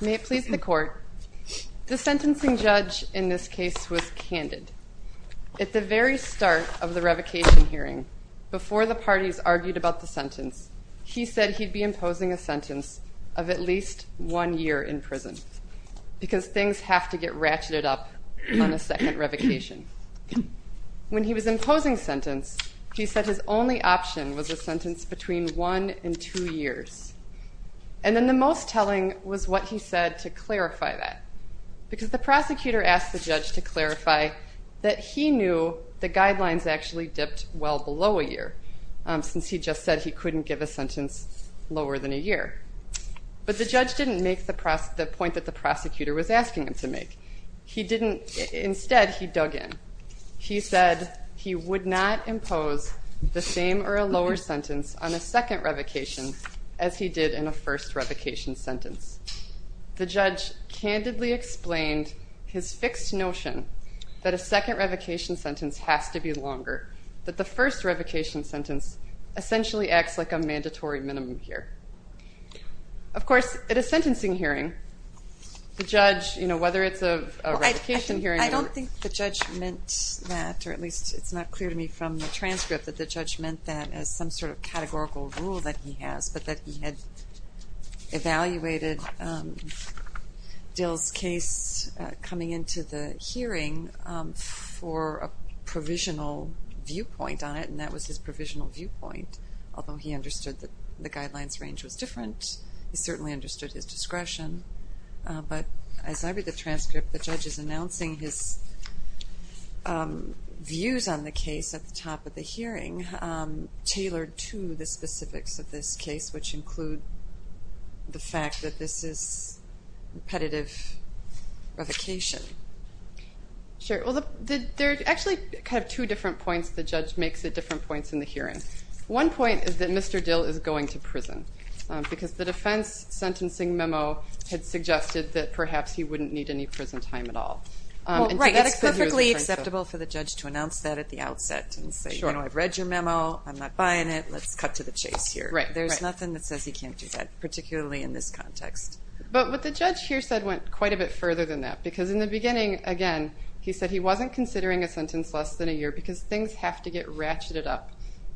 May it please the court. The sentencing judge in this case was candid. At the very start of the revocation hearing, before the parties argued about the sentence, he said he'd be imposing a sentence of at least one year in prison, because things have to get ratcheted up on a second revocation. When he was imposing sentence, he said his only option was a sentence between one and two years. And then the most telling was what he said to clarify that, because the prosecutor asked the judge to clarify that he knew the guidelines actually dipped well below a year, since he just said he couldn't give a sentence lower than a year. But the judge didn't make the point that the prosecutor was asking him to make. Instead, he dug in. He said he would not impose the same or a lower sentence on a second revocation as he did in a first revocation sentence. The judge candidly explained his fixed notion that a second revocation sentence has to be longer, that the first revocation sentence essentially acts like a mandatory minimum here. Of course, at a sentencing hearing, the judge, you know, whether it's a revocation hearing or... ...Dill's case coming into the hearing for a provisional viewpoint on it, and that was his provisional viewpoint, although he understood that the guidelines range was different. He certainly understood his discretion. But as I read the transcript, the judge is announcing his views on the case at the top of the hearing, tailored to the specifics of this case, which include the fact that this is repetitive revocation. Sure. Well, there are actually kind of two different points the judge makes at different points in the hearing. One point is that Mr. Dill is going to prison, because the defense sentencing memo had suggested that perhaps he wouldn't need any prison time at all. Right, it's perfectly acceptable for the judge to announce that at the outset and say, you know, I've read your memo, I'm not buying it, let's cut to the chase here. There's nothing that says he can't do that, particularly in this context. But what the judge here said went quite a bit further than that, because in the beginning, again, he said he wasn't considering a sentence less than a year, because things have to get ratcheted up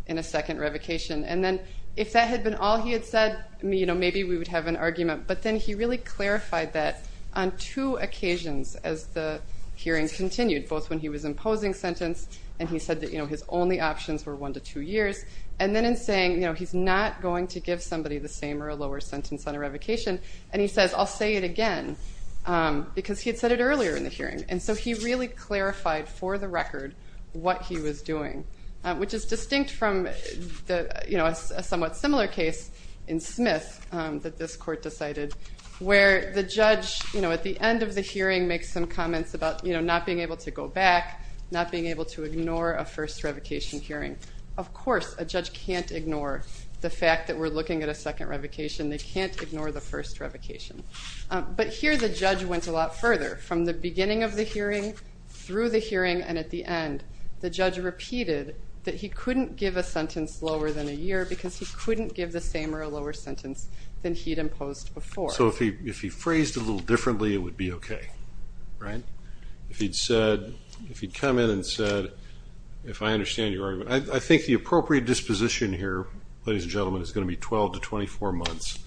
in a second revocation. And then if that had been all he had said, you know, maybe we would have an argument. But then he really clarified that on two occasions as the hearing continued, both when he was imposing sentence, and he said that his only options were one to two years. And then in saying, you know, he's not going to give somebody the same or a lower sentence on a revocation, and he says, I'll say it again, because he had said it earlier in the hearing. And so he really clarified for the record what he was doing, which is distinct from a somewhat similar case in Smith that this court decided, where the judge, you know, at the end of the hearing makes some comments about not being able to go back, not being able to ignore a first revocation hearing. Of course, a judge can't ignore the fact that we're looking at a second revocation. They can't ignore the first revocation. But here the judge went a lot further. From the beginning of the hearing, through the hearing, and at the end, the judge repeated that he couldn't give a sentence lower than a year, because he couldn't give the same or a lower sentence than he'd imposed before. So if he phrased it a little differently, it would be okay, right? If he'd said, if he'd come in and said, if I understand your argument, I think the appropriate disposition here, ladies and gentlemen, is going to be 12 to 24 months,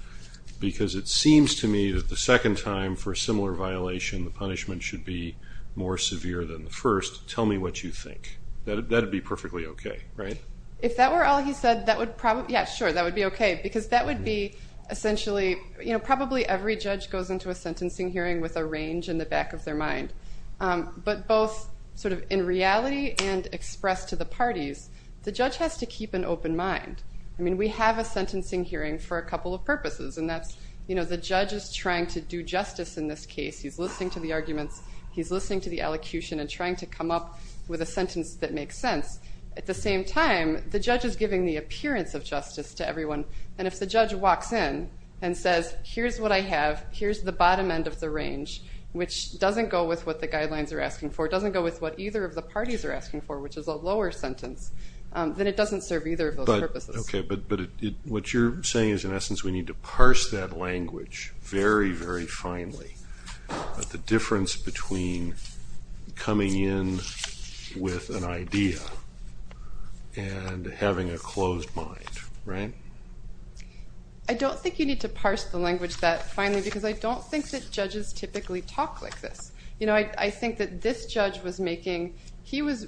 because it seems to me that the second time for a similar violation, the punishment should be more severe than the first. Tell me what you think. That would be perfectly okay, right? If that were all he said, that would probably, yeah, sure, that would be okay, because that would be essentially, you know, probably every judge goes into a sentencing hearing with a range in the back of their mind. But both sort of in reality and expressed to the parties, the judge has to keep an open mind. I mean, we have a sentencing hearing for a couple of purposes, and that's, you know, the judge is trying to do justice in this case. He's listening to the arguments. He's listening to the elocution and trying to come up with a sentence that makes sense. At the same time, the judge is giving the appearance of justice to everyone, and if the judge walks in and says, here's what I have, here's the bottom end of the range, which doesn't go with what the guidelines are asking for, doesn't go with what either of the parties are asking for, which is a lower sentence, then it doesn't serve either of those purposes. Okay, but what you're saying is, in essence, we need to parse that language very, very finely. The difference between coming in with an idea and having a closed mind, right? I don't think you need to parse the language that finely, because I don't think that judges typically talk like this. You know, I think that this judge was making, he was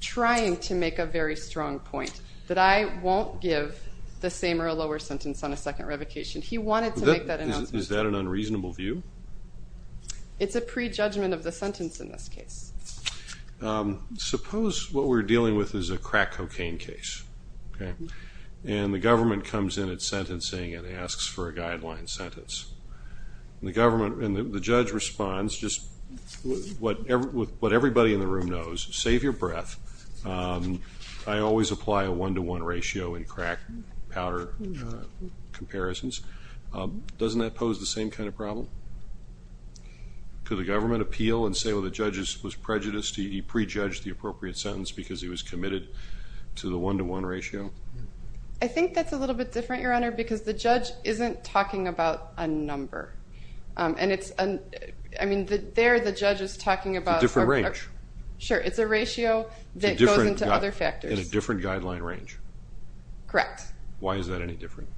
trying to make a very strong point that I won't give the same or a lower sentence on a second revocation. He wanted to make that announcement. Is that an unreasonable view? It's a prejudgment of the sentence in this case. Suppose what we're dealing with is a crack cocaine case, okay, and the government comes in at sentencing and asks for a guideline sentence. And the government, and the judge responds, just what everybody in the room knows, save your breath, I always apply a one-to-one ratio in crack powder comparisons. Doesn't that pose the same kind of problem? Could the government appeal and say, well, the judge was prejudiced, he prejudged the appropriate sentence because he was committed to the one-to-one ratio? I think that's a little bit different, Your Honor, because the judge isn't talking about a number. And it's, I mean, there the judge is talking about. A different range. Sure, it's a ratio that goes into other factors. In a different guideline range. Correct. Why is that any different?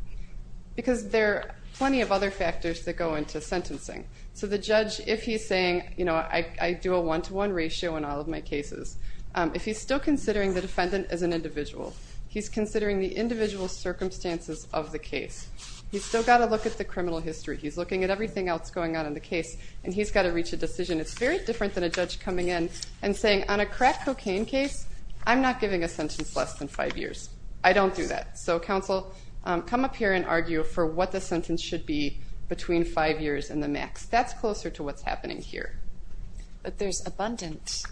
Because there are plenty of other factors that go into sentencing. So the judge, if he's saying, you know, I do a one-to-one ratio in all of my cases, if he's still considering the defendant as an individual, he's considering the individual circumstances of the case. He's still got to look at the criminal history. He's looking at everything else going on in the case, and he's got to reach a decision. It's very different than a judge coming in and saying, on a crack cocaine case, I'm not giving a sentence less than five years. I don't do that. So, counsel, come up here and argue for what the sentence should be between five years and the max. That's closer to what's happening here. But there's abundant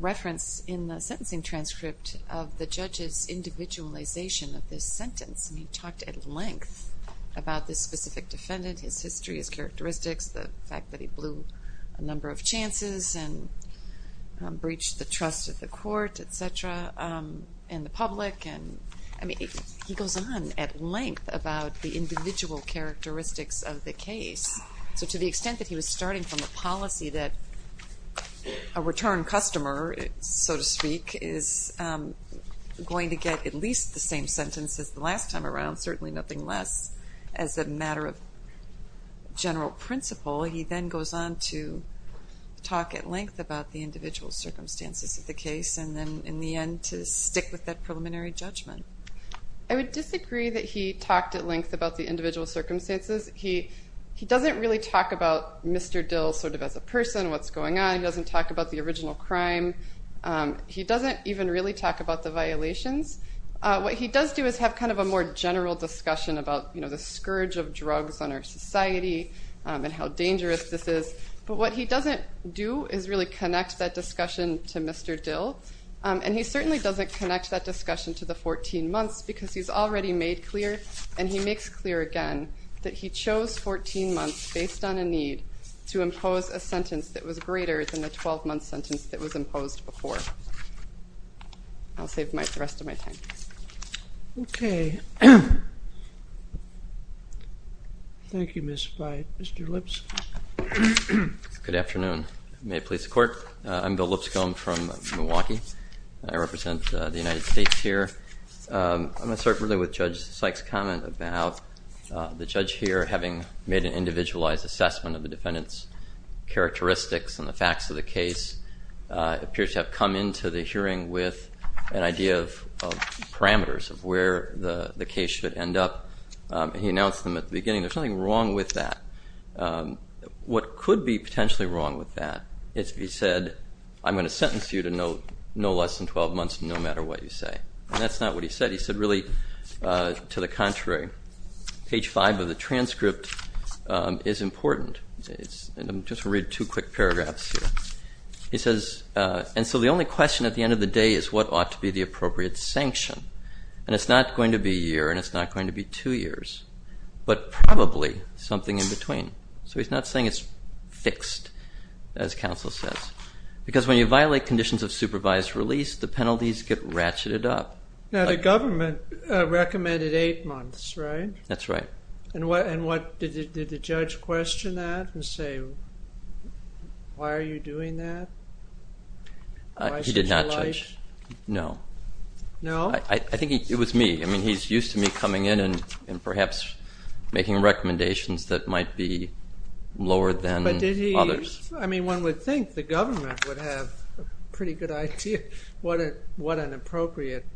reference in the sentencing transcript of the judge's individualization of this sentence. And he talked at length about this specific defendant, his history, his characteristics, the fact that he blew a number of chances and breached the trust of the court, et cetera, and the public. I mean, he goes on at length about the individual characteristics of the case. So to the extent that he was starting from the policy that a return customer, so to speak, is going to get at least the same sentence as the last time around, certainly nothing less, as a matter of general principle, he then goes on to talk at length about the individual circumstances of the case and then, in the end, to stick with that preliminary judgment. I would disagree that he talked at length about the individual circumstances. He doesn't really talk about Mr. Dill sort of as a person, what's going on. He doesn't talk about the original crime. He doesn't even really talk about the violations. What he does do is have kind of a more general discussion about, you know, the scourge of drugs on our society and how dangerous this is. But what he doesn't do is really connect that discussion to Mr. Dill. And he certainly doesn't connect that discussion to the 14 months because he's already made clear, and he makes clear again, that he chose 14 months based on a need to impose a sentence that was greater than the 12-month sentence that was imposed before. I'll save the rest of my time. Okay. Thank you, Ms. Fyatt. Mr. Lipscomb. Good afternoon. May it please the Court. I'm Bill Lipscomb from Milwaukee. I represent the United States here. I'm going to start really with Judge Sykes' comment about the judge here having made an individualized assessment of the defendant's characteristics and the facts of the case. It appears to have come into the hearing with an idea of parameters of where the case should end up. He announced them at the beginning. There's nothing wrong with that. What could be potentially wrong with that is if he said, I'm going to sentence you to no less than 12 months no matter what you say. And that's not what he said. He said, really, to the contrary. Page 5 of the transcript is important. I'm just going to read two quick paragraphs here. He says, and so the only question at the end of the day is what ought to be the appropriate sanction. And it's not going to be a year, and it's not going to be two years, but probably something in between. So he's not saying it's fixed, as counsel says. Because when you violate conditions of supervised release, the penalties get ratcheted up. Now, the government recommended eight months, right? That's right. And did the judge question that and say, why are you doing that? He did not judge. No. No? I think it was me. I mean, he's used to me coming in and perhaps making recommendations that might be lower than others. I mean, one would think the government would have a pretty good idea what an appropriate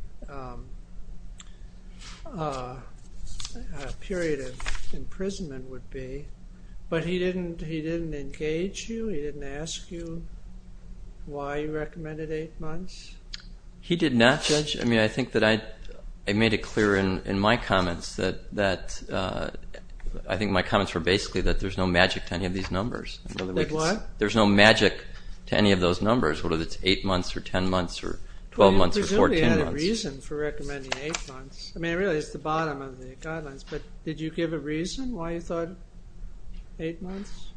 period of imprisonment would be. But he didn't engage you? He didn't ask you why he recommended eight months? He did not judge. I mean, I think that I made it clear in my comments that I think my comments were basically that there's no magic to any of these numbers. Like what? There's no magic to any of those numbers, whether it's eight months or 10 months or 12 months or 14 months. Well, you presumably had a reason for recommending eight months. I mean, really, it's the bottom of the guidelines. But did you give a reason why you thought eight months?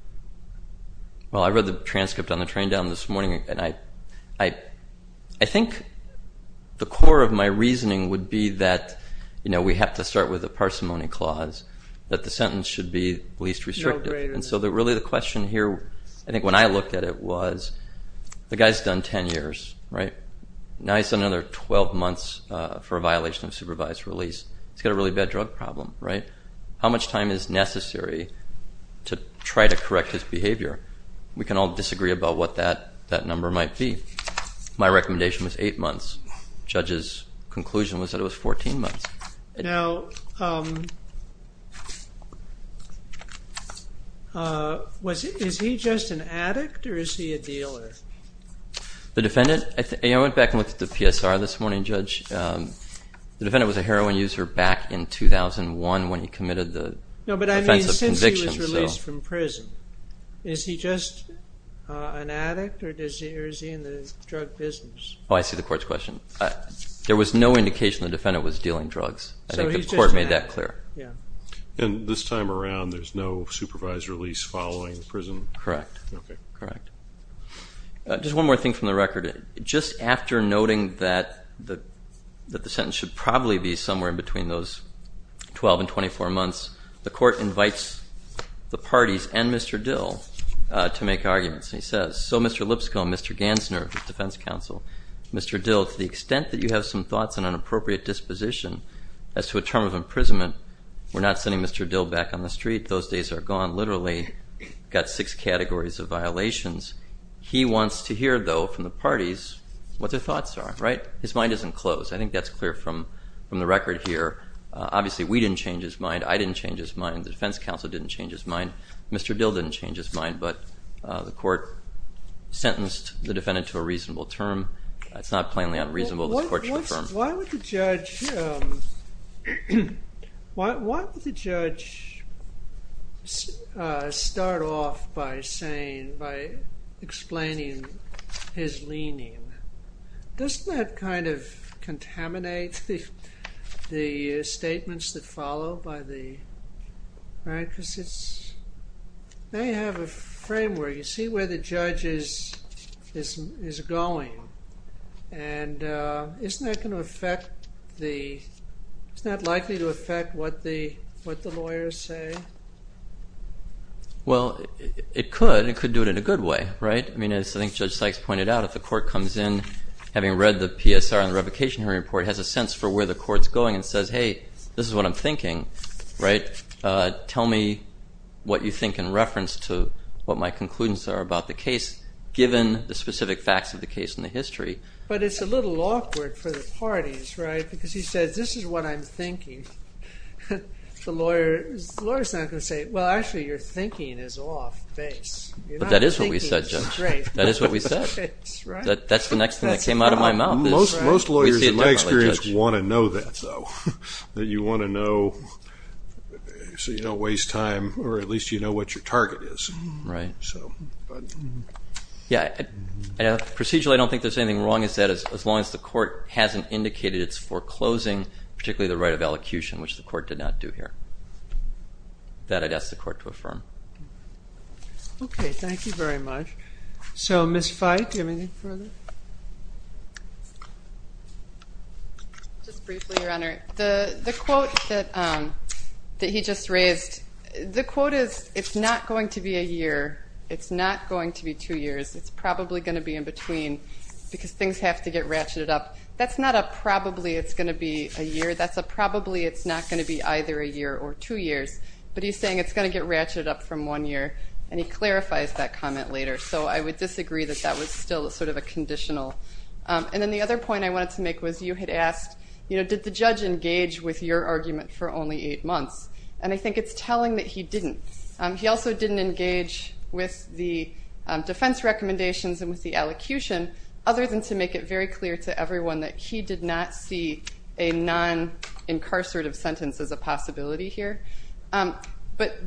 Well, I read the transcript on the train down this morning. I think the core of my reasoning would be that we have to start with a parsimony clause, that the sentence should be least restrictive. And so really the question here, I think when I looked at it, was the guy's done 10 years, right? Now he's done another 12 months for a violation of supervised release. He's got a really bad drug problem, right? How much time is necessary to try to correct his behavior? We can all disagree about what that number might be. My recommendation was eight months. Judge's conclusion was that it was 14 months. Now, is he just an addict or is he a dealer? The defendant, I went back and looked at the PSR this morning, Judge. The defendant was a heroin user back in 2001 when he committed the offense of conviction. He was released from prison. Is he just an addict or is he in the drug business? Oh, I see the court's question. There was no indication the defendant was dealing drugs. I think the court made that clear. And this time around there's no supervised release following prison? Correct. Okay. Correct. Just one more thing from the record. Just after noting that the sentence should probably be somewhere in between those 12 and 24 months, the court invites the parties and Mr. Dill to make arguments. And he says, So, Mr. Lipscomb, Mr. Gansner of the Defense Council, Mr. Dill, to the extent that you have some thoughts and an appropriate disposition as to a term of imprisonment, we're not sending Mr. Dill back on the street. Those days are gone. Literally got six categories of violations. He wants to hear, though, from the parties what their thoughts are, right? His mind isn't closed. I think that's clear from the record here. Obviously, we didn't change his mind. I didn't change his mind. The Defense Council didn't change his mind. Mr. Dill didn't change his mind. But the court sentenced the defendant to a reasonable term. It's not plainly unreasonable. Why would the judge start off by explaining his leaning? Doesn't that kind of contaminate the statements that follow? Right? Because they have a framework. You see where the judge is going. And isn't that likely to affect what the lawyers say? Well, it could. It could do it in a good way, right? I mean, as I think Judge Sykes pointed out, if the court comes in, having read the PSR and the revocation hearing report, has a sense for where the court's going and says, hey, this is what I'm thinking, right? Tell me what you think in reference to what my conclusions are about the case, But it's a little awkward for the parties, right? Because he says, this is what I'm thinking. The lawyer is not going to say, well, actually, your thinking is off base. But that is what we said, Judge. That is what we said. That's the next thing that came out of my mouth. Most lawyers, in my experience, want to know that, though. That you want to know so you don't waste time or at least you know what your target is. Right. Yeah. Procedurally, I don't think there's anything wrong with that as long as the court hasn't indicated it's foreclosing, particularly the right of elocution, which the court did not do here. That I'd ask the court to affirm. Okay. Thank you very much. So, Ms. Fite, do you have anything further? Just briefly, Your Honor. The quote that he just raised, the quote is, it's not going to be a year. It's not going to be two years. It's probably going to be in between because things have to get ratcheted up. That's not a probably it's going to be a year. That's a probably it's not going to be either a year or two years. But he's saying it's going to get ratcheted up from one year, and he clarifies that comment later. So I would disagree that that was still sort of a conditional. And then the other point I wanted to make was you had asked, you know, did the judge engage with your argument for only eight months? And I think it's telling that he didn't. He also didn't engage with the defense recommendations and with the elocution, other than to make it very clear to everyone that he did not see a non-incarcerative sentence as a possibility here. But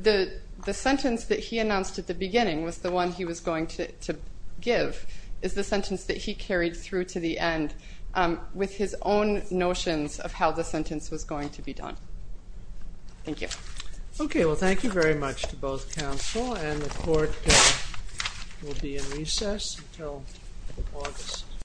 the sentence that he announced at the beginning was the one he was going to give, is the sentence that he carried through to the end with his own notions of how the sentence was going to be done. Thank you. Okay. Well, thank you very much to both counsel, and the court will be in recess until August.